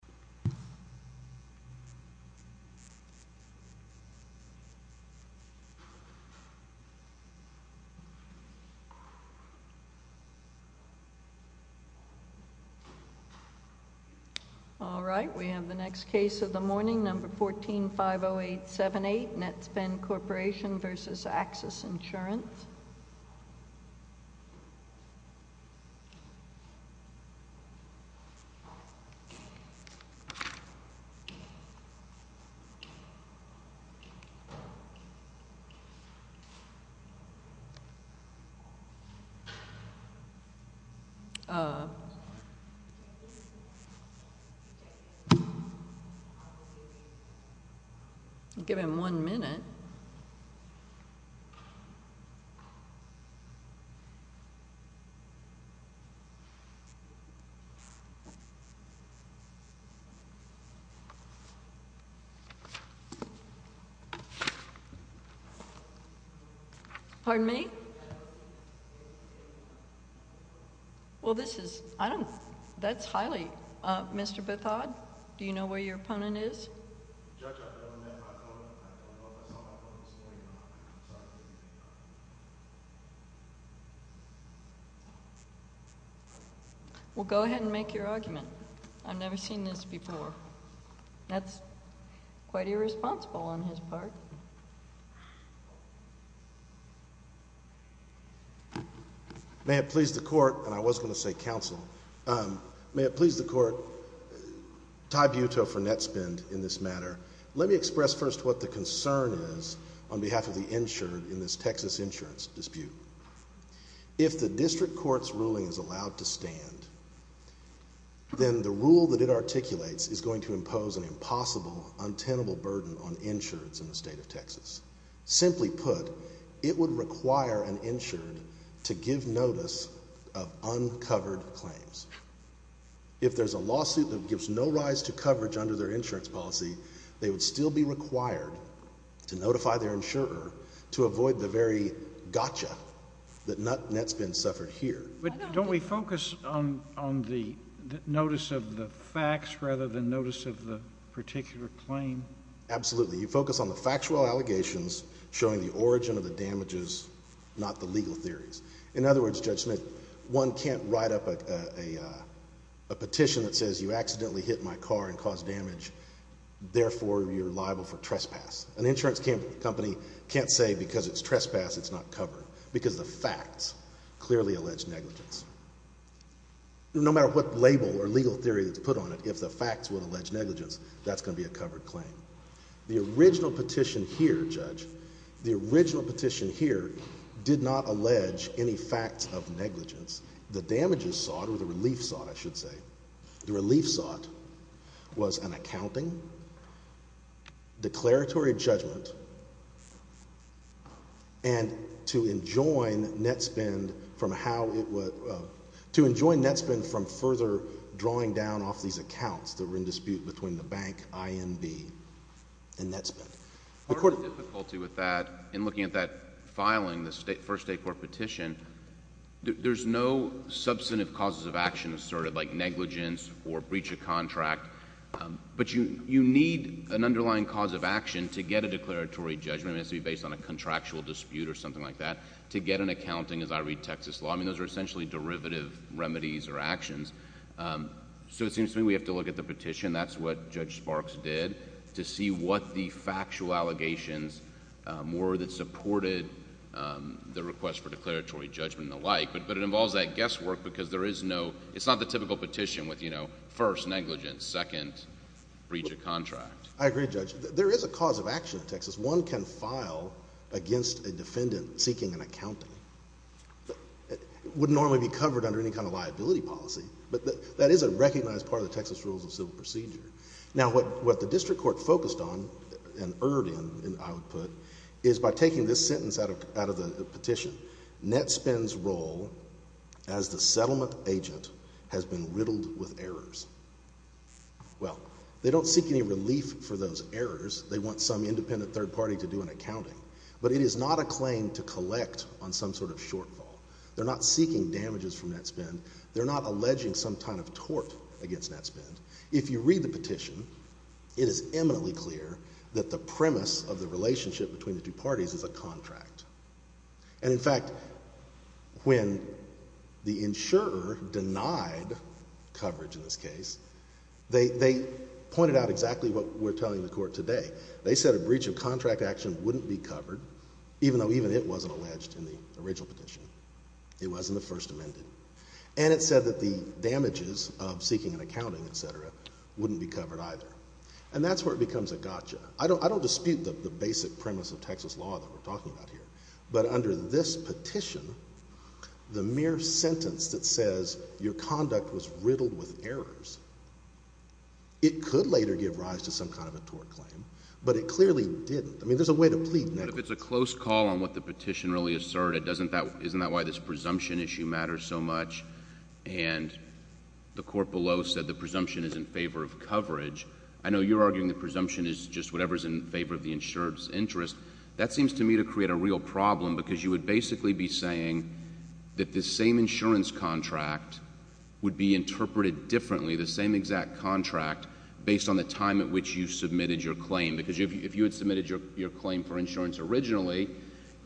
cetera. All right. We have the next case of the morning, number 1450878, Netspend Corporation v. AXIS Insurance. Pardon me? Well, this is... I don't... That's highly... Mr. Bethod, do you know where your opponent is? Well, go ahead and make your argument. I've never seen this before. That's quite irresponsible on his part. May it please the Court... and I was going to say counsel. May it please the Court. Ty Butow for Netspend in this matter. Let me express first what the concern is on behalf of the insured in this Texas insurance dispute. If the district court's ruling is allowed to stand, then the rule that it articulates is going to impose an impossible, untenable burden on insurance in the state of Texas. Simply put, it would require an insured to give notice of uncovered claims. If there's a lawsuit that gives no rise to coverage under their insurance policy, they would still be required to notify their insurer to avoid the very gotcha that Netspend suffered here. But don't we focus on the notice of the facts rather than notice of the particular claim? Absolutely. You focus on the factual allegations showing the origin of the damages, not the legal theories. In other words, Judge Smith, one can't write up a petition that says you accidentally hit my car and caused damage, therefore you're liable for trespass. An insurance company can't say because it's trespass it's not covered because the facts clearly allege negligence. No matter what label or legal theory that's put on it, if the facts would allege negligence, that's going to be a covered claim. The original petition here, Judge, the original petition here did not allege any facts of negligence. The damages sought or the relief sought, I should say, the relief sought was an accounting, declaratory judgment, and to enjoin Netspend from how it would, to enjoin Netspend from further drawing down off these accounts that were in dispute between the bank IMB and Netspend. Part of the difficulty with that, in looking at that filing, the first state court petition, there's no substantive causes of action asserted, like negligence or breach of contract, but you need an underlying cause of action to get a declaratory judgment. It has to be based on a contractual dispute or something like that to get an accounting as I read Texas law. I mean, those are essentially derivative remedies or actions. So it seems to me we have to look at the petition. That's what Judge Sparks did to see what the factual allegations were that supported the request for declaratory judgment and the like, but it involves that guesswork because there is no, it's not the typical petition with, you know, first negligence, second breach of contract. I agree, Judge. There is a cause of action in Texas. One can file against a defendant seeking an accounting. It wouldn't normally be covered under any kind of liability policy, but that is a recognized part of the Texas Rules of Civil Procedure. Now, what the district court focused on and erred in, I would put, is by taking this sentence out of the petition, Netspend's role as the settlement agent has been riddled with errors. Well, they don't seek any relief for those errors. They want some independent third party to do an accounting, but it is not a claim to collect on some sort of shortfall. They're not seeking damages from Netspend. They're not alleging some kind of tort against Netspend. If you read the petition, it is eminently clear that the premise of the relationship between the two parties is a contract, and in fact, when the insurer denied coverage in this case, they pointed out exactly what we're telling the court today. They said a breach of contract action wouldn't be covered, even though even it wasn't alleged in the original petition. It wasn't the first amended, and it said that the damages of seeking an accounting, et cetera, wouldn't be covered either, and that's where it becomes a gotcha. I don't dispute the basic premise of Texas law that we're talking about here, but under this petition, the mere sentence that says your conduct was riddled with errors, it could later give rise to some kind of a tort claim, but it clearly didn't. I mean, there's a way to plead negligence. But if it's a close call on what the petition really asserted, isn't that why this presumption issue matters so much? And the court below said the presumption is in favor of coverage. I know you're arguing the presumption is just whatever's in favor of the insurer's interest. That seems to me to create a real problem, because you would basically be saying that this same insurance contract would be interpreted differently, the same exact contract, based on the time at which you submitted your claim. Because if you had submitted your claim for insurance originally,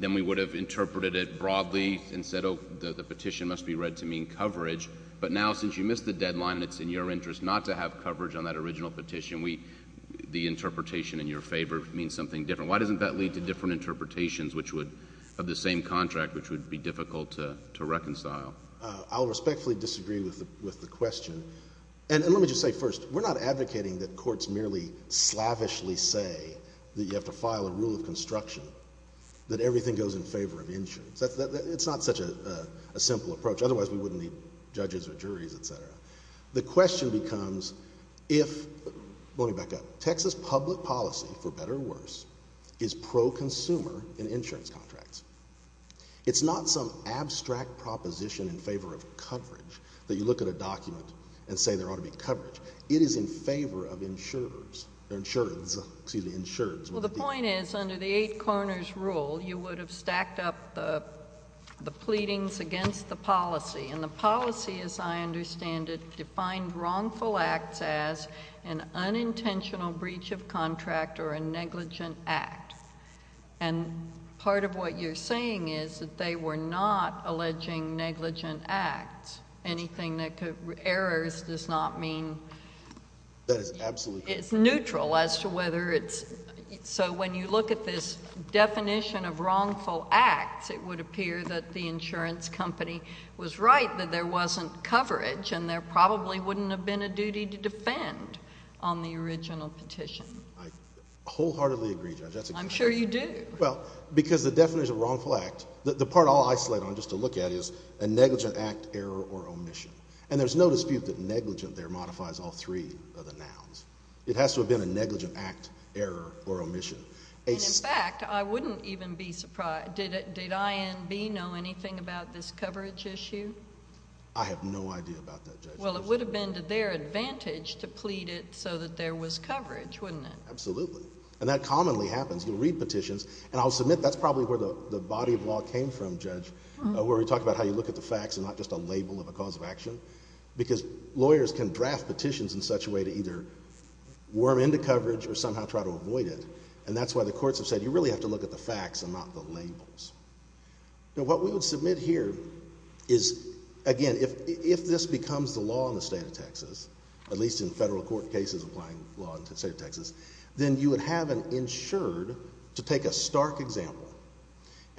then we would have interpreted it broadly and said, oh, the petition must be read to mean coverage. But now, since you missed the deadline and it's in your interest not to have coverage on that original petition, the interpretation in your favor means something different. Why doesn't that lead to different interpretations of the same contract, which would be difficult to reconcile? I'll respectfully disagree with the question. And let me just say first, we're not advocating that courts merely slavishly say that you have to file a rule of construction, that everything goes in favor of insurance. It's not such a simple approach. Otherwise, we wouldn't need judges or juries, et cetera. The question becomes if, going back up, Texas public policy, for better or worse, is pro-consumer in insurance contracts. It's not some abstract proposition in favor of coverage that you look at a document and say there ought to be coverage. It is in favor of insurers, or insureds, excuse me, insureds. So the point is, under the eight corners rule, you would have stacked up the pleadings against the policy. And the policy, as I understand it, defined wrongful acts as an unintentional breach of contract or a negligent act. And part of what you're saying is that they were not alleging negligent acts, anything that could, errors does not mean. That is absolutely correct. It's neutral as to whether it's, so when you look at this definition of wrongful acts, it would appear that the insurance company was right that there wasn't coverage, and there probably wouldn't have been a duty to defend on the original petition. I wholeheartedly agree, Judge. I'm sure you do. Well, because the definition of wrongful act, the part I'll isolate on just to look at is a negligent act, error, or omission. And there's no dispute that negligent there modifies all three of the nouns. It has to have been a negligent act, error, or omission. And in fact, I wouldn't even be surprised. Did INB know anything about this coverage issue? I have no idea about that, Judge. Well, it would have been to their advantage to plead it so that there was coverage, wouldn't it? Absolutely. And that commonly happens. You'll read petitions, and I'll submit that's probably where the body of law came from, Judge, where we talk about how you look at the facts and not just a label of a cause of action, because lawyers can draft petitions in such a way to either worm into coverage or somehow try to avoid it. And that's why the courts have said you really have to look at the facts and not the labels. Now, what we would submit here is, again, if this becomes the law in the state of Texas, at least in federal court cases applying law in the state of Texas, then you would have an insured to take a stark example.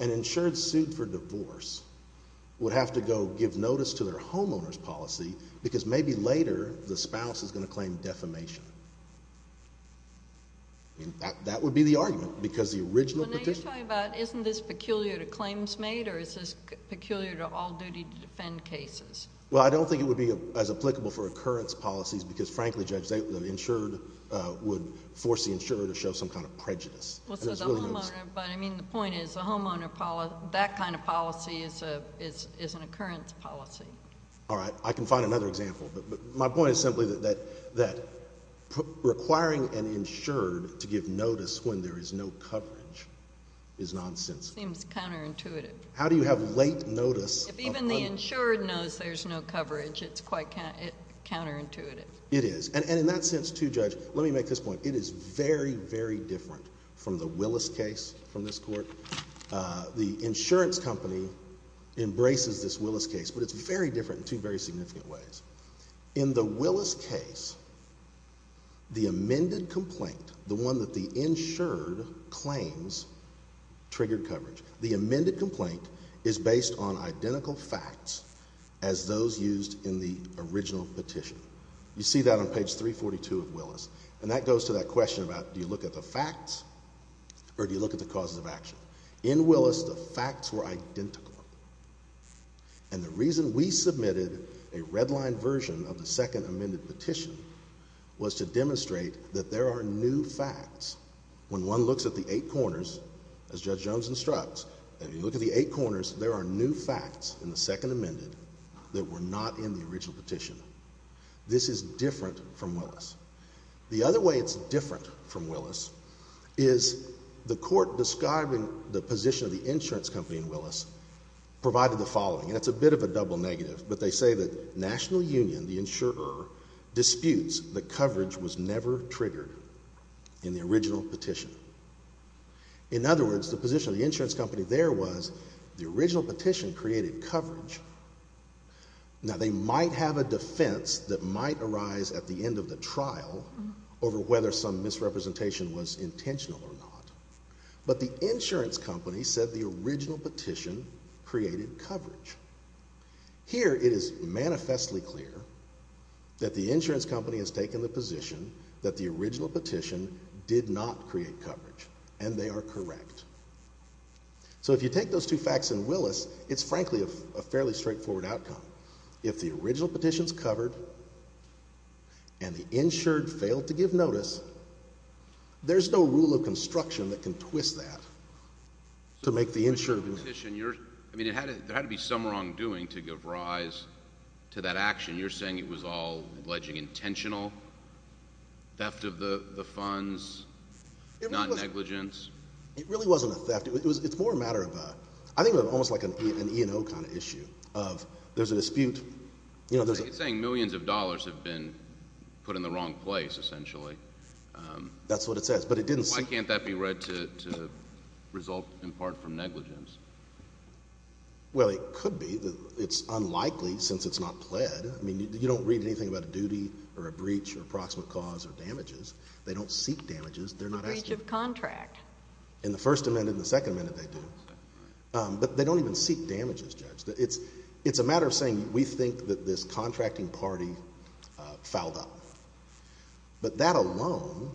An insured sued for divorce would have to go give notice to their homeowner's policy because maybe later the spouse is going to claim defamation. That would be the argument because the original petition. Well, now you're talking about isn't this peculiar to claims made or is this peculiar to all duty to defend cases? Well, I don't think it would be as applicable for occurrence policies because, frankly, Judge, the insured would force the insurer to show some kind of prejudice. Well, so the homeowner, but I mean the point is the homeowner, that kind of policy is an occurrence policy. All right. I can find another example. But my point is simply that requiring an insured to give notice when there is no coverage is nonsensical. It seems counterintuitive. How do you have late notice? If even the insured knows there's no coverage, it's quite counterintuitive. It is. And in that sense, too, Judge, let me make this point. It is very, very different from the Willis case from this court. The insurance company embraces this Willis case, but it's very different in two very significant ways. In the Willis case, the amended complaint, the one that the insured claims triggered coverage, the amended complaint is based on identical facts as those used in the original petition. You see that on page 342 of Willis. And that goes to that question about do you look at the facts or do you look at the causes of action. In Willis, the facts were identical. And the reason we submitted a redlined version of the second amended petition was to demonstrate that there are new facts. When one looks at the eight corners, as Judge Jones instructs, and you look at the eight corners, there are new facts in the second amended that were not in the original petition. This is different from Willis. The other way it's different from Willis is the court describing the position of the insurance company in Willis provided the following. And it's a bit of a double negative. But they say that National Union, the insurer, disputes that coverage was never triggered in the original petition. In other words, the position of the insurance company there was the original petition created coverage. Now, they might have a defense that might arise at the end of the trial over whether some misrepresentation was intentional or not. But the insurance company said the original petition created coverage. Here it is manifestly clear that the insurance company has taken the position that the original petition did not create coverage. And they are correct. So if you take those two facts in Willis, it's frankly a fairly straightforward outcome. If the original petition is covered and the insured failed to give notice, there's no rule of construction that can twist that to make the insured. I mean, there had to be some wrongdoing to give rise to that action. You're saying it was all alleged intentional theft of the funds, non-negligence. It really wasn't a theft. It's more a matter of a, I think of it almost like an E&O kind of issue of there's a dispute. You're saying millions of dollars have been put in the wrong place essentially. That's what it says. Why can't that be read to result in part from negligence? Well, it could be. It's unlikely since it's not pled. I mean, you don't read anything about a duty or a breach or a proximate cause or damages. They don't seek damages. They're not asking. A breach of contract. In the First Amendment and the Second Amendment they do. But they don't even seek damages, Judge. It's a matter of saying we think that this contracting party fouled up. But that alone,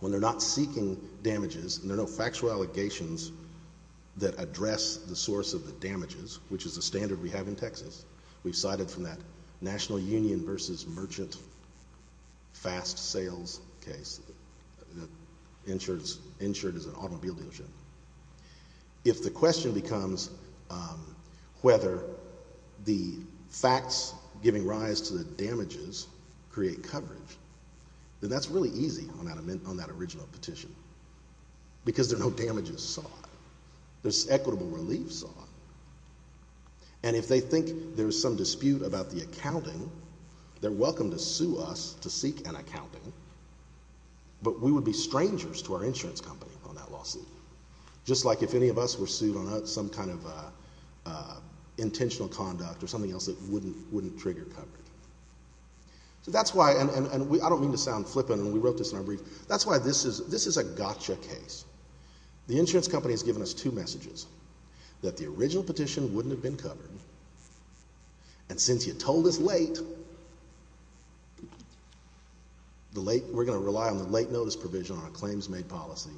when they're not seeking damages and there are no factual allegations that address the source of the damages, which is the standard we have in Texas. We've cited from that National Union versus Merchant Fast Sales case, insured as an automobile dealership. If the question becomes whether the facts giving rise to the damages create coverage, then that's really easy on that original petition. Because there are no damages sought. There's equitable relief sought. And if they think there's some dispute about the accounting, they're welcome to sue us to seek an accounting. But we would be strangers to our insurance company on that lawsuit. Just like if any of us were sued on some kind of intentional conduct or something else that wouldn't trigger coverage. So that's why, and I don't mean to sound flippant, and we wrote this in our brief. That's why this is a gotcha case. The insurance company has given us two messages. That the original petition wouldn't have been covered. And since you told us late, we're going to rely on the late notice provision on a claims made policy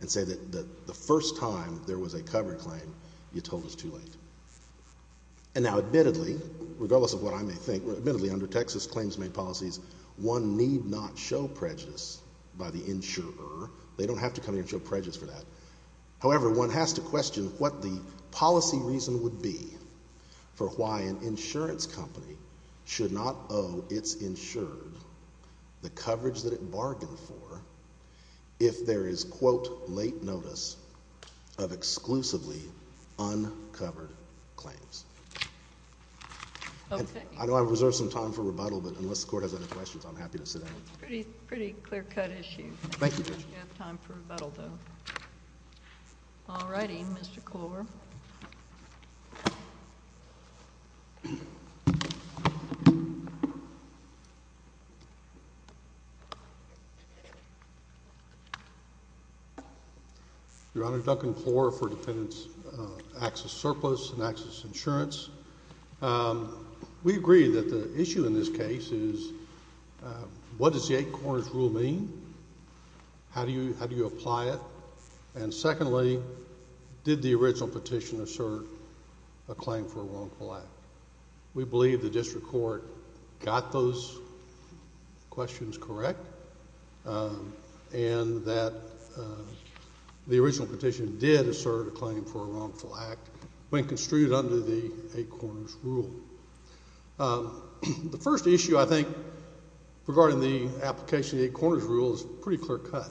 and say that the first time there was a covered claim, you told us too late. And now admittedly, regardless of what I may think, admittedly under Texas claims made policies, one need not show prejudice by the insurer. They don't have to come in and show prejudice for that. Okay. I know I've reserved some time for rebuttal, but unless the Court has any questions, I'm happy to sit down. It's a pretty clear-cut issue. Thank you, Judge. You have time for rebuttal, though. All righty. Mr. Klor. Your Honor, Duncan Klor for Dependents Access Surplus and Access Insurance. We agree that the issue in this case is what does the eight corners rule mean? How do you apply it? And secondly, did the original petition assert a claim for a wrongful act? We believe the district court got those questions correct and that the original petition did assert a claim for a wrongful act when construed under the eight corners rule. The first issue, I think, regarding the application of the eight corners rule is pretty clear-cut.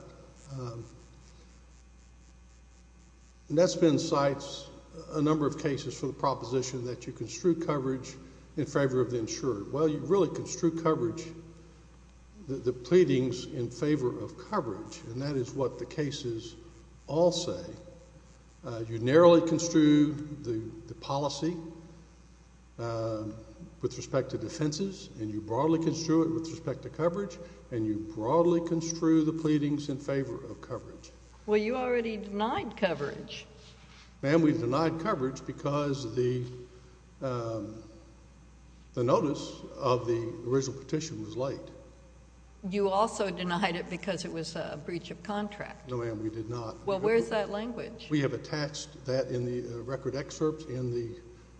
And that's been in sites a number of cases for the proposition that you construe coverage in favor of the insurer. Well, you really construe coverage, the pleadings in favor of coverage, and that is what the cases all say. You narrowly construe the policy with respect to defenses, and you broadly construe it with respect to coverage, and you broadly construe the pleadings in favor of coverage. Well, you already denied coverage. Ma'am, we denied coverage because the notice of the original petition was late. You also denied it because it was a breach of contract. No, ma'am, we did not. Well, where's that language? We have attached that in the record excerpt in the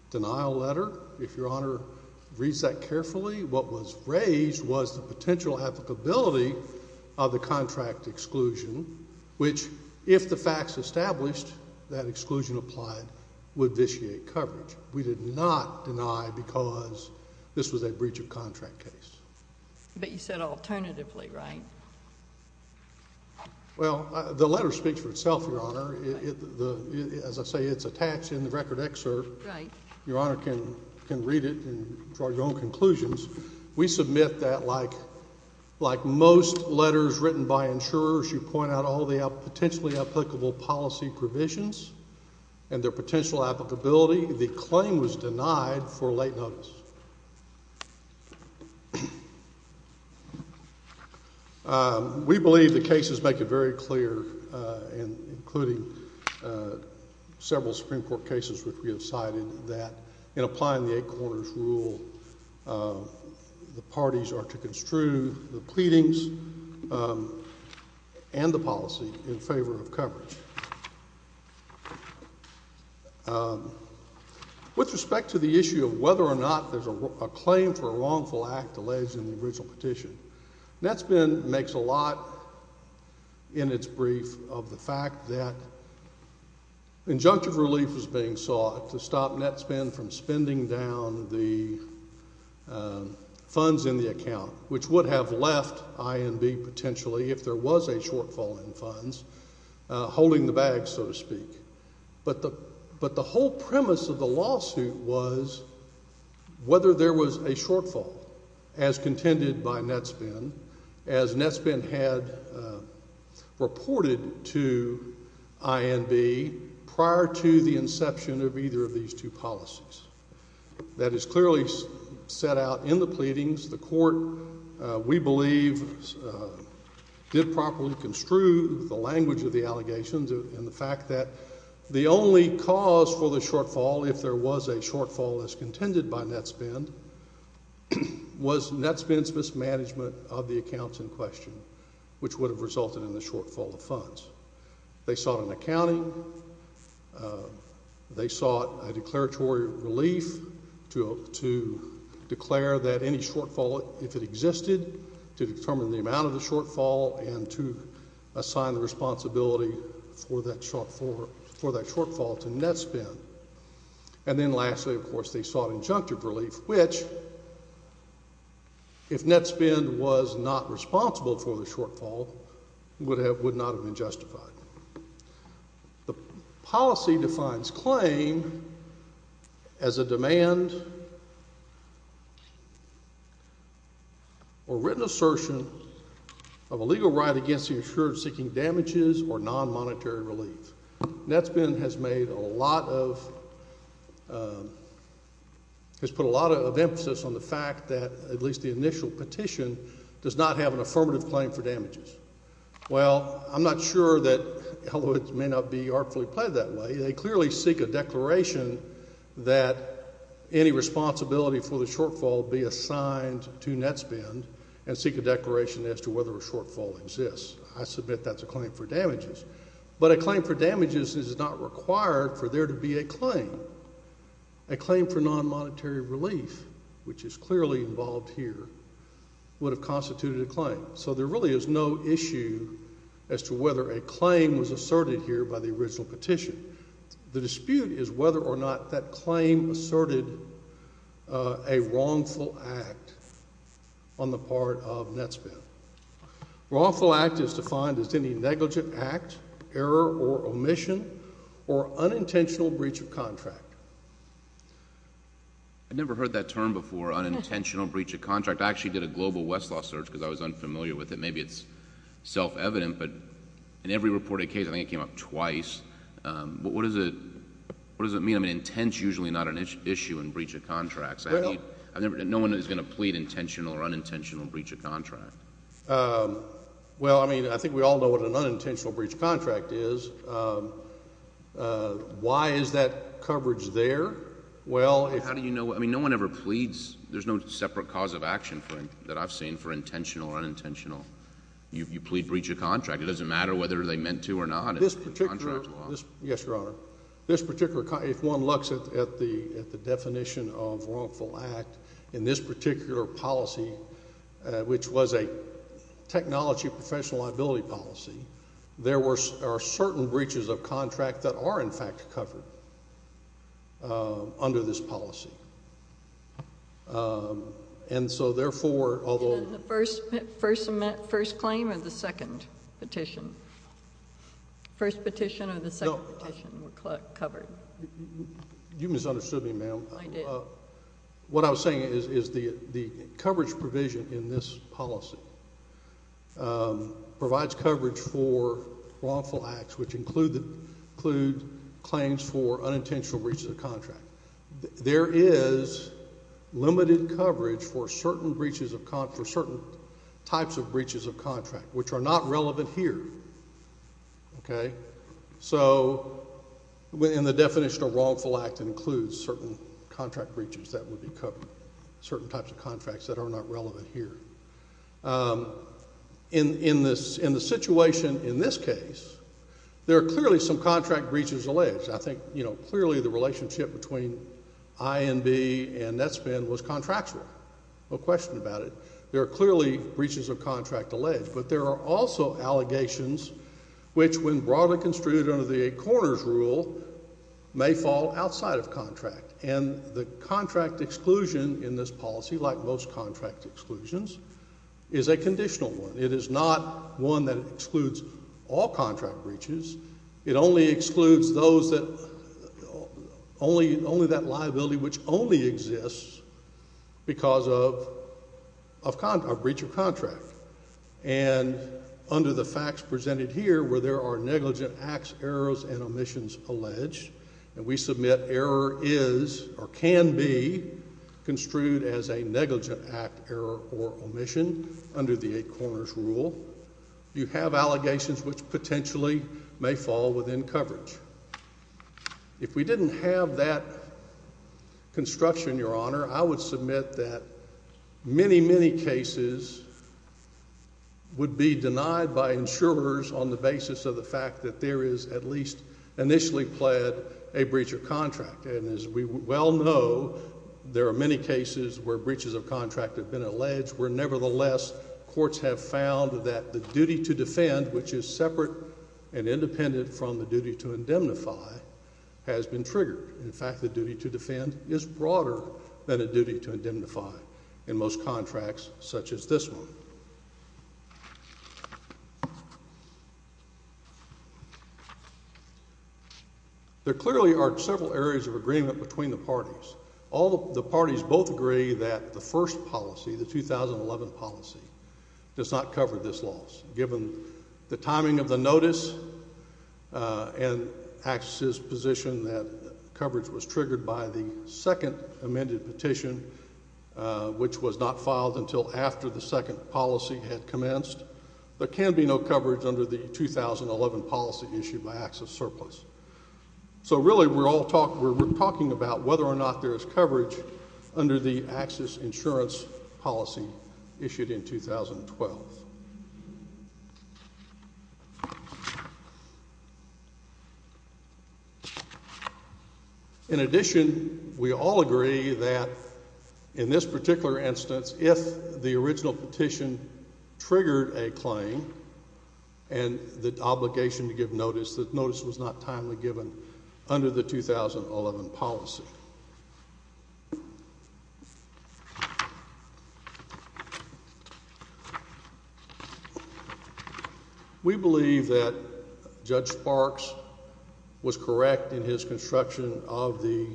denial letter. If Your Honor reads that carefully, what was raised was the potential applicability of the contract exclusion, which, if the facts established that exclusion applied, would vitiate coverage. We did not deny because this was a breach of contract case. But you said alternatively, right? Well, the letter speaks for itself, Your Honor. As I say, it's attached in the record excerpt. Right. Your Honor can read it and draw your own conclusions. We submit that like most letters written by insurers, you point out all the potentially applicable policy provisions and their potential applicability. The claim was denied for late notice. We believe the cases make it very clear, including several Supreme Court cases which we have cited, that in applying the eight corners rule, the parties are to construe the pleadings and the policy in favor of coverage. With respect to the issue of whether or not there's a claim for a wrongful act alleged in the original petition, NetSpend makes a lot in its brief of the fact that injunctive relief is being sought to stop NetSpend from spending down the funds in the account, which would have left INB potentially, if there was a shortfall in funds, holding the bag, so to speak. But the whole premise of the lawsuit was whether there was a shortfall, as contended by NetSpend, as NetSpend had reported to INB prior to the inception of either of these two policies. That is clearly set out in the pleadings. The court, we believe, did properly construe the language of the allegations and the fact that the only cause for the shortfall, if there was a shortfall as contended by NetSpend, was NetSpend's mismanagement of the accounts in question, which would have resulted in the shortfall of funds. They sought an accounting. They sought a declaratory relief to declare that any shortfall, if it existed, to determine the amount of the shortfall and to assign the responsibility for that shortfall to NetSpend. And then lastly, of course, they sought injunctive relief, which, if NetSpend was not responsible for the shortfall, would not have been justified. The policy defines claim as a demand or written assertion of a legal right against the insurer seeking damages or non-monetary relief. NetSpend has made a lot of – has put a lot of emphasis on the fact that at least the initial petition does not have an affirmative claim for damages. Well, I'm not sure that it may not be artfully played that way. They clearly seek a declaration that any responsibility for the shortfall be assigned to NetSpend and seek a declaration as to whether a shortfall exists. I submit that's a claim for damages. But a claim for damages is not required for there to be a claim. A claim for non-monetary relief, which is clearly involved here, would have constituted a claim. So there really is no issue as to whether a claim was asserted here by the original petition. The dispute is whether or not that claim asserted a wrongful act on the part of NetSpend. Wrongful act is defined as any negligent act, error, or omission, or unintentional breach of contract. I've never heard that term before, unintentional breach of contract. I actually did a global Westlaw search because I was unfamiliar with it. Maybe it's self-evident, but in every reported case, I think it came up twice. But what does it mean? I mean, intent's usually not an issue in breach of contract. No one is going to plead intentional or unintentional breach of contract. Well, I mean, I think we all know what an unintentional breach of contract is. Why is that coverage there? How do you know? I mean, no one ever pleads. There's no separate cause of action that I've seen for intentional or unintentional. You plead breach of contract. It doesn't matter whether they meant to or not. Yes, Your Honor. If one looks at the definition of wrongful act in this particular policy, which was a technology professional liability policy, there are certain breaches of contract that are, in fact, covered under this policy. And so, therefore, although— First claim or the second petition? First petition or the second petition were covered? You misunderstood me, ma'am. I did. What I was saying is the coverage provision in this policy provides coverage for wrongful acts, which include claims for unintentional breaches of contract. There is limited coverage for certain types of breaches of contract, which are not relevant here. Okay? So, and the definition of wrongful act includes certain contract breaches that would be covered, certain types of contracts that are not relevant here. In the situation in this case, there are clearly some contract breaches alleged. I think, you know, clearly the relationship between I&B and Netspan was contractual. No question about it. There are clearly breaches of contract alleged. But there are also allegations which, when broadly construed under the eight corners rule, may fall outside of contract. And the contract exclusion in this policy, like most contract exclusions, is a conditional one. It is not one that excludes all contract breaches. It only excludes those that, only that liability which only exists because of breach of contract. And under the facts presented here, where there are negligent acts, errors, and omissions alleged, and we submit error is or can be construed as a negligent act, error, or omission under the eight corners rule, you have allegations which potentially may fall within coverage. If we didn't have that construction, Your Honor, I would submit that many, many cases would be denied by insurers on the basis of the fact that there is at least initially pled a breach of contract. And as we well know, there are many cases where breaches of contract have been alleged, where nevertheless courts have found that the duty to defend, which is separate and independent from the duty to indemnify, has been triggered. In fact, the duty to defend is broader than a duty to indemnify in most contracts such as this one. There clearly are several areas of agreement between the parties. All the parties both agree that the first policy, the 2011 policy, does not cover this loss. Given the timing of the notice and AXIS's position that coverage was triggered by the second amended petition, which was not filed until after the second policy had commenced, there can be no coverage under the 2011 policy issued by AXIS surplus. So really we're all talking about whether or not there is coverage under the AXIS insurance policy issued in 2012. In addition, we all agree that in this particular instance, if the original petition triggered a claim and the obligation to give notice, that notice was not timely given under the 2011 policy. We believe that Judge Sparks was correct in his construction of the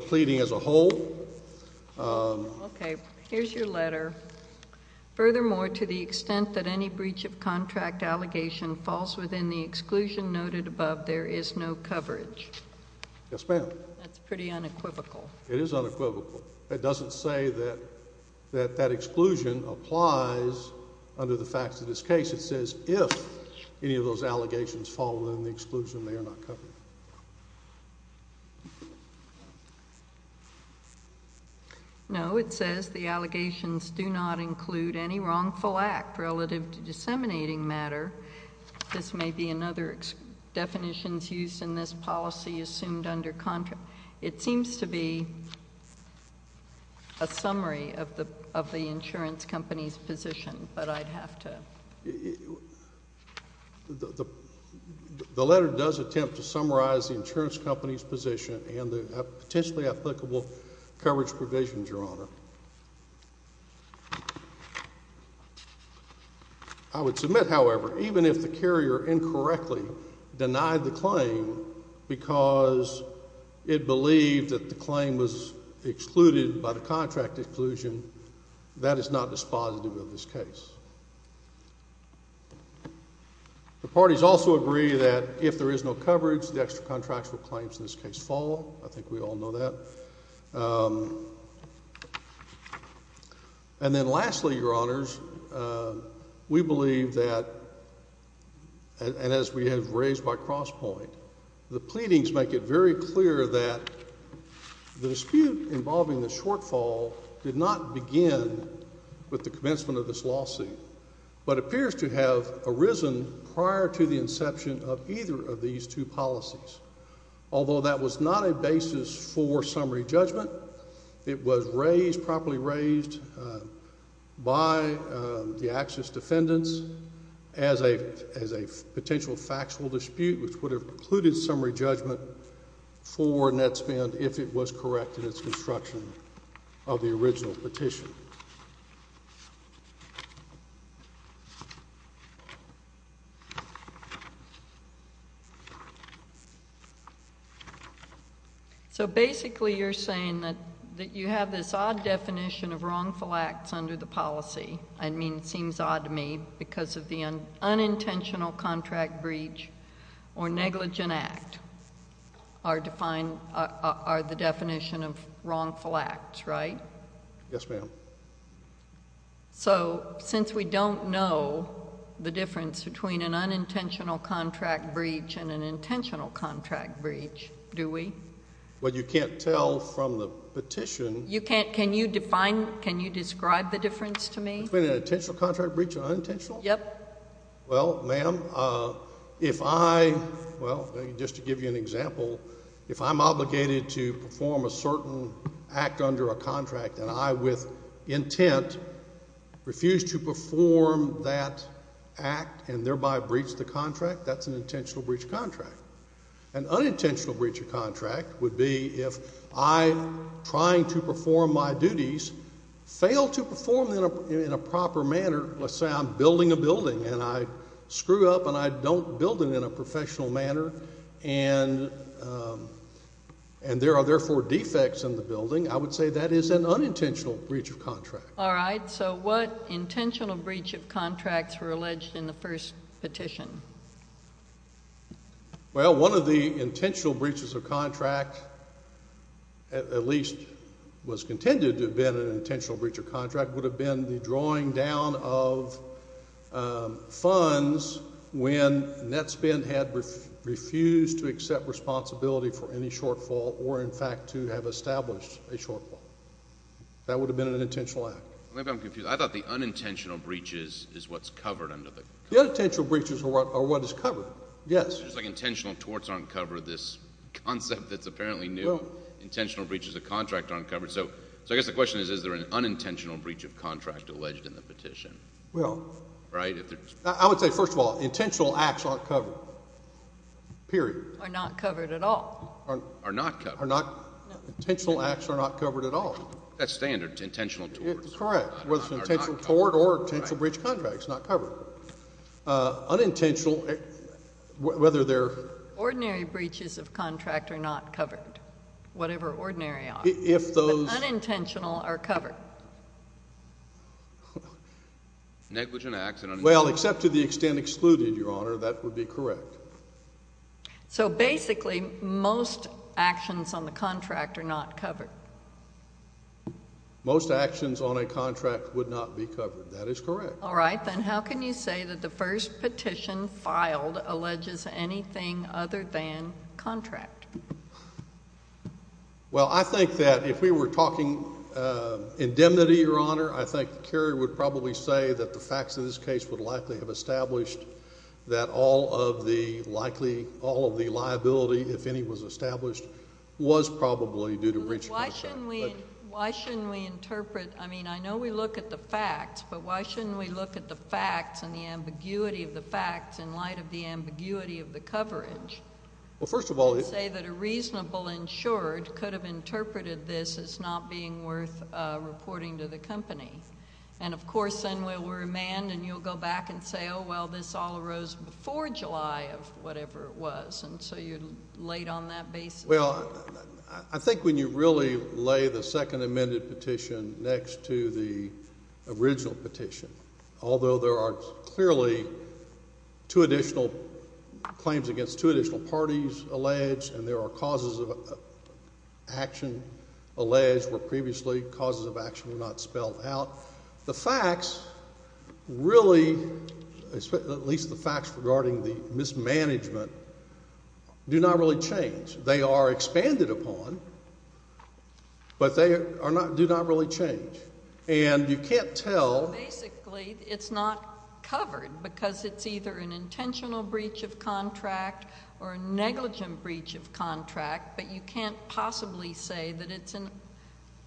pleading as a whole. Okay. Here's your letter. Furthermore, to the extent that any breach of contract allegation falls within the exclusion noted above, there is no coverage. Yes, ma'am. That's pretty unequivocal. It is unequivocal. It doesn't say that that exclusion applies under the facts of this case. It says if any of those allegations fall within the exclusion, they are not covered. Okay. No, it says the allegations do not include any wrongful act relative to disseminating matter. This may be another definition used in this policy assumed under contract. It seems to be a summary of the insurance company's position, but I'd have to. The letter does attempt to summarize the insurance company's position and the potentially applicable coverage provisions, Your Honor. I would submit, however, even if the carrier incorrectly denied the claim because it believed that the claim was excluded by the contract exclusion, that is not dispositive of this case. The parties also agree that if there is no coverage, the extra contractual claims in this case fall. I think we all know that. And then lastly, Your Honors, we believe that, and as we have raised by cross point, the pleadings make it very clear that the dispute involving the shortfall did not begin with the commencement of this lawsuit, but appears to have arisen prior to the inception of either of these two policies. Although that was not a basis for summary judgment, it was raised, properly raised by the Axis defendants as a potential factual dispute, which would have precluded summary judgment for net spend if it was correct in its construction of the original petition. So basically you're saying that you have this odd definition of wrongful acts under the policy. I mean, it seems odd to me because of the unintentional contract breach or negligent act are defined, are the definition of wrongful acts, right? Yes, ma'am. So since we don't know the difference between an unintentional contract breach and an intentional contract breach, do we? Well, you can't tell from the petition. Can you define, can you describe the difference to me? Between an intentional contract breach and unintentional? Yep. Well, ma'am, if I, well, just to give you an example, if I'm obligated to perform a certain act under a contract and I with intent refuse to perform that act and thereby breach the contract, that's an intentional breach of contract. An unintentional breach of contract would be if I, trying to perform my duties, fail to perform in a proper manner, let's say I'm building a building and I screw up and I don't build it in a professional manner and there are therefore defects in the building, I would say that is an unintentional breach of contract. All right. So what intentional breach of contracts were alleged in the first petition? Well, one of the intentional breaches of contract, at least was contended to have been an intentional breach of contract, would have been the drawing down of funds when Netspend had refused to accept responsibility for any shortfall or, in fact, to have established a shortfall. That would have been an intentional act. Maybe I'm confused. I thought the unintentional breach is what's covered under the contract. The unintentional breaches are what is covered, yes. It's like intentional torts aren't covered, this concept that's apparently new. Intentional breaches of contract aren't covered. So I guess the question is, is there an unintentional breach of contract alleged in the petition? Well. Right? I would say, first of all, intentional acts aren't covered, period. Are not covered at all. Are not covered. Intentional acts are not covered at all. That's standard, intentional torts. Correct. Whether it's an intentional tort or intentional breach of contract, it's not covered. Unintentional, whether they're... Ordinary breaches of contract are not covered, whatever ordinary are. If those... Unintentional are covered. Negligent acts. Well, except to the extent excluded, Your Honor, that would be correct. So basically, most actions on the contract are not covered. Most actions on a contract would not be covered. That is correct. All right. Then how can you say that the first petition filed alleges anything other than contract? Well, I think that if we were talking indemnity, Your Honor, I think Kerry would probably say that the facts of this case would likely have established that all of the likely, all of the liability, if any, was established, was probably due to breach of contract. Why shouldn't we... Okay. Why shouldn't we interpret... I mean, I know we look at the facts, but why shouldn't we look at the facts and the ambiguity of the facts in light of the ambiguity of the coverage. Well, first of all... To say that a reasonable insurer could have interpreted this as not being worth reporting to the company. And, of course, then we'll remand and you'll go back and say, oh, well, this all arose before July of whatever it was. And so you're late on that basis. Well, I think when you really lay the second amended petition next to the original petition, although there are clearly two additional claims against two additional parties alleged and there are causes of action alleged where previously causes of action were not spelled out, the facts really, at least the facts regarding the mismanagement, do not really change. They are expanded upon, but they do not really change. And you can't tell... Basically, it's not covered because it's either an intentional breach of contract or a negligent breach of contract, but you can't possibly say that it's an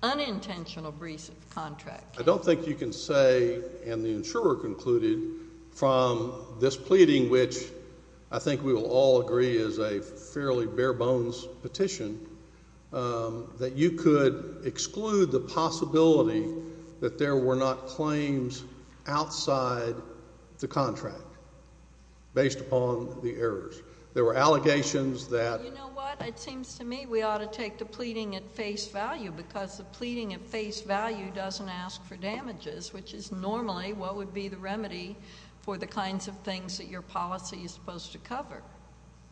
unintentional breach of contract. I don't think you can say, and the insurer concluded, from this pleading, which I think we will all agree is a fairly bare bones petition, that you could exclude the possibility that there were not claims outside the contract based upon the errors. There were allegations that... which is normally what would be the remedy for the kinds of things that your policy is supposed to cover.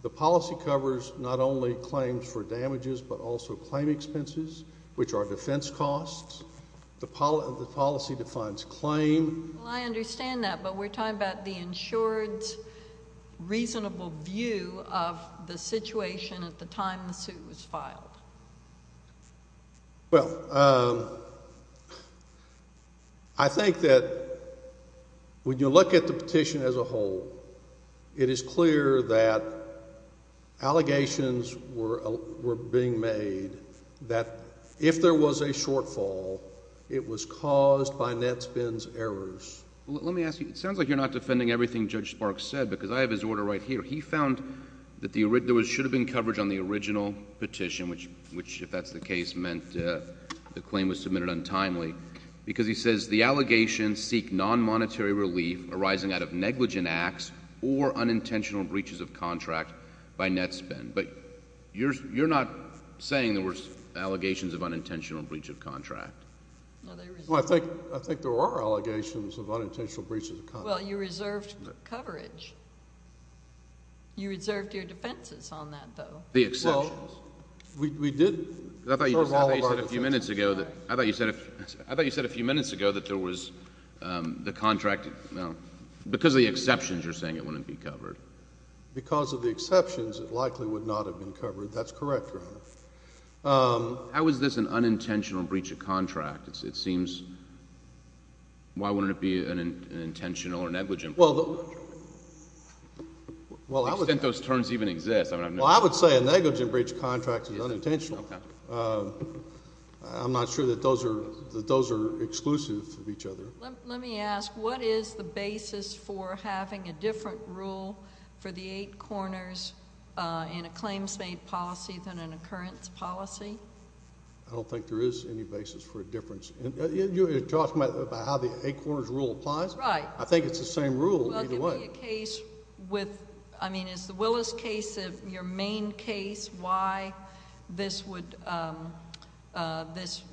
The policy covers not only claims for damages but also claim expenses, which are defense costs. The policy defines claim. Well, I understand that, but we're talking about the insurer's reasonable view of the situation at the time the suit was filed. Well, I think that when you look at the petition as a whole, it is clear that allegations were being made that if there was a shortfall, it was caused by Netspen's errors. Let me ask you, it sounds like you're not defending everything Judge Sparks said because I have his order right here. He found that there should have been coverage on the original petition, which, if that's the case, meant the claim was submitted untimely. Because he says the allegations seek non-monetary relief arising out of negligent acts or unintentional breaches of contract by Netspen. But you're not saying there were allegations of unintentional breach of contract. Well, I think there were allegations of unintentional breaches of contract. Well, you reserved coverage. You reserved your defenses on that, though. The exceptions. Well, we did reserve all of our defenses. I thought you said a few minutes ago that there was the contract – because of the exceptions you're saying it wouldn't be covered. Because of the exceptions, it likely would not have been covered. That's correct, Your Honor. How is this an unintentional breach of contract? It seems – why wouldn't it be an intentional or negligent breach of contract? To the extent those terms even exist. Well, I would say a negligent breach of contract is unintentional. I'm not sure that those are exclusive of each other. Let me ask, what is the basis for having a different rule for the eight corners in a claims-made policy than an occurrence policy? I don't think there is any basis for a difference. You're talking about how the eight corners rule applies? Right. I think it's the same rule either way. Well, give me a case with – I mean, is the Willis case your main case why this would – this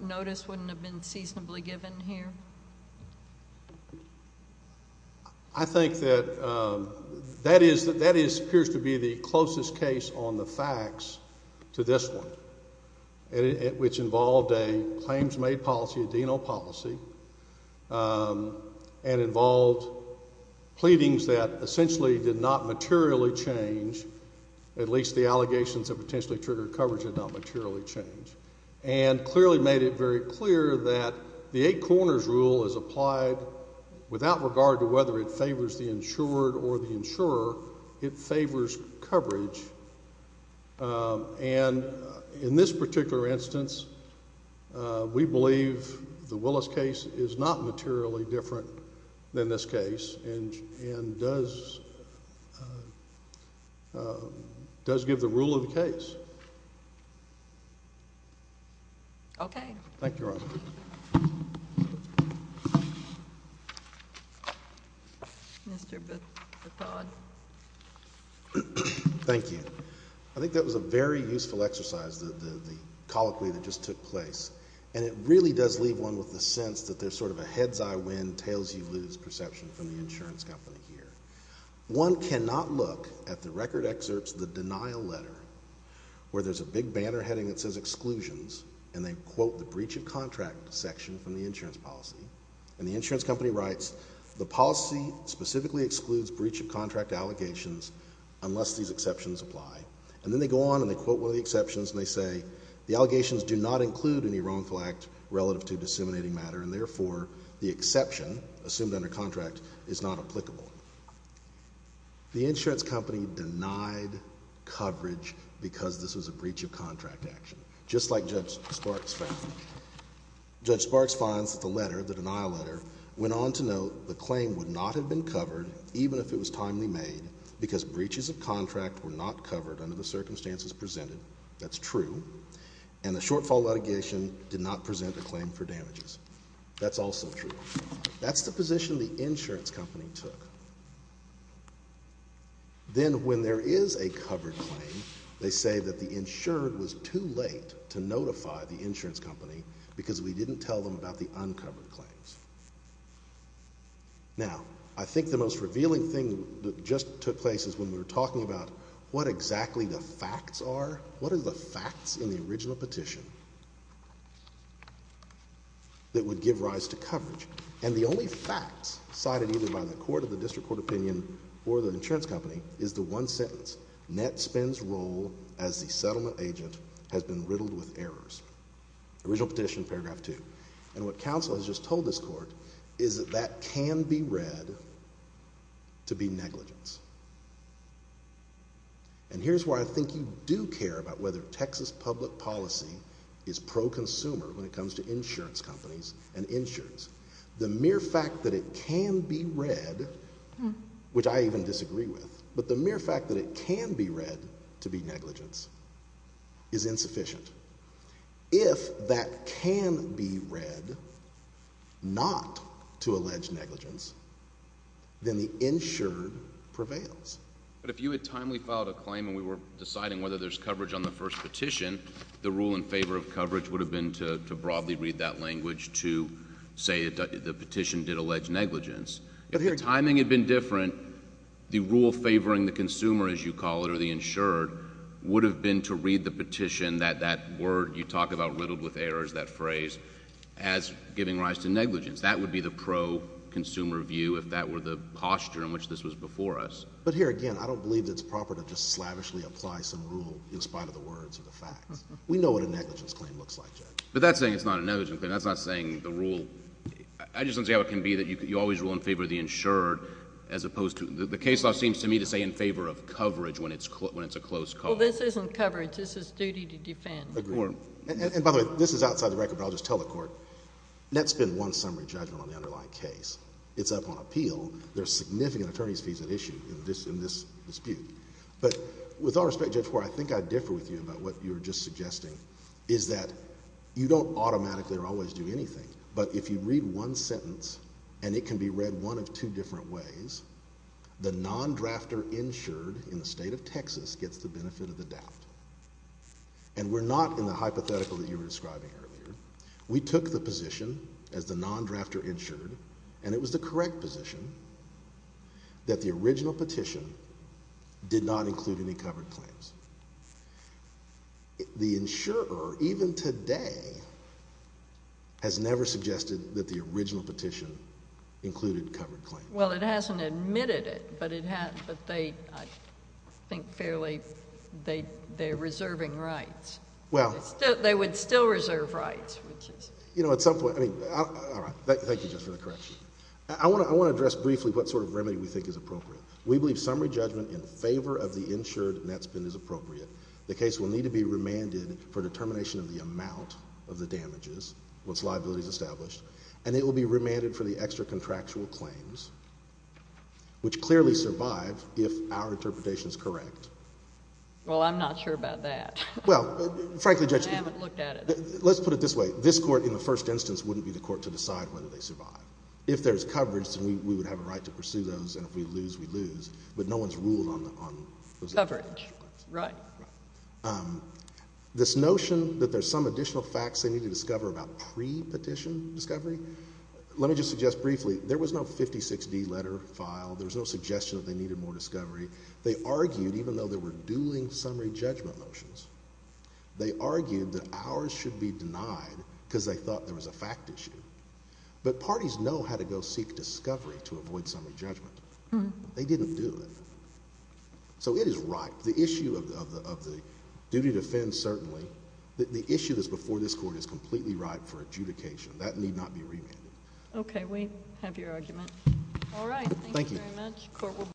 notice wouldn't have been seasonably given here? I think that that is – that appears to be the closest case on the facts to this one, which involved a claims-made policy, a D&O policy, and involved pleadings that essentially did not materially change, at least the allegations of potentially triggered coverage did not materially change, and clearly made it very clear that the eight corners rule is applied without regard to whether it favors the insured or the insurer. It favors coverage, and in this particular instance, we believe the Willis case is not materially different than this case and does give the rule of the case. Okay. Thank you, Your Honor. Thank you. I think that was a very useful exercise, the colloquy that just took place, and it really does leave one with a sense that there's sort of a heads-I-win, tails-you-lose perception from the insurance company here. One cannot look at the record excerpts of the denial letter, where there's a big banner heading that says Exclusions, and they quote the breach of contract section from the insurance policy, and the insurance company writes, the policy specifically excludes breach of contract allegations unless these exceptions apply. And then they go on and they quote one of the exceptions, and they say, the allegations do not include any wrongful act relative to disseminating matter, and therefore the exception, assumed under contract, is not applicable. The insurance company denied coverage because this was a breach of contract action, just like Judge Sparks found. Judge Sparks finds that the letter, the denial letter, went on to note the claim would not have been covered, even if it was timely made, because breaches of contract were not covered under the circumstances presented. That's true. And the shortfall litigation did not present a claim for damages. That's also true. That's the position the insurance company took. Then when there is a covered claim, they say that the insured was too late to notify the insurance company because we didn't tell them about the uncovered claims. Now, I think the most revealing thing that just took place is when we were talking about what exactly the facts are. What are the facts in the original petition that would give rise to coverage? And the only facts cited either by the court of the district court opinion or the insurance company is the one sentence, Nett spends role as the settlement agent has been riddled with errors. Original petition, paragraph two. And what counsel has just told this court is that that can be read to be negligence. And here's why I think you do care about whether Texas public policy is pro-consumer when it comes to insurance companies and insurance. The mere fact that it can be read, which I even disagree with, but the mere fact that it can be read to be negligence is insufficient. If that can be read not to allege negligence, then the insured prevails. But if you had timely filed a claim and we were deciding whether there's coverage on the first petition, the rule in favor of coverage would have been to broadly read that language to say the petition did allege negligence. If the timing had been different, the rule favoring the consumer, as you call it, or the insured, would have been to read the petition that that word you talk about riddled with errors, that phrase, as giving rise to negligence. That would be the pro-consumer view if that were the posture in which this was before us. But here again, I don't believe it's proper to just slavishly apply some rule in spite of the words or the facts. We know what a negligence claim looks like, Judge. But that's saying it's not a negligence claim. That's not saying the rule... I just don't see how it can be that you always rule in favor of the insured as opposed to... The case law seems to me to say in favor of coverage when it's a close call. Well, this isn't coverage. This is duty to defend. Agreed. And by the way, this is outside the record, but I'll just tell the Court, that's been one summary judgment on the underlying case. It's up on appeal. There are significant attorney's fees at issue in this dispute. But with all respect, Judge Hoare, I think I differ with you about what you were just suggesting, is that you don't automatically or always do anything. But if you read one sentence, and it can be read one of two different ways, the non-drafter insured in the state of Texas gets the benefit of the doubt. And we're not in the hypothetical that you were describing earlier. We took the position as the non-drafter insured, and it was the correct position, that the original petition did not include any covered claims. The insurer, even today, has never suggested that the original petition included covered claims. Well, it hasn't admitted it, but they, I think fairly, they're reserving rights. Well. They would still reserve rights. You know, at some point, I mean, all right. Thank you, Judge, for the correction. I want to address briefly what sort of remedy we think is appropriate. We believe summary judgment in favor of the insured net spend is appropriate. The case will need to be remanded for determination of the amount of the damages, once liability is established. And it will be remanded for the extra-contractual claims, which clearly survive if our interpretation is correct. Well, I'm not sure about that. Well, frankly, Judge. I haven't looked at it. Let's put it this way. This court, in the first instance, wouldn't be the court to decide whether they survive. If there's coverage, then we would have a right to pursue those, and if we lose, we lose. But no one's ruled on those extra-contractual claims. Coverage. Right. Right. This notion that there's some additional facts they need to discover about pre-petition discovery, let me just suggest briefly. There was no 56-D letter file. There was no suggestion that they needed more discovery. They argued, even though they were dueling summary judgment motions, they argued that ours should be denied because they thought there was a fact issue. But parties know how to go seek discovery to avoid summary judgment. They didn't do it. So it is ripe. The issue of the duty to defend certainly. The issue that's before this court is completely ripe for adjudication. That need not be remanded. Okay. We have your argument. All right. Thank you very much. Court will be adjourned.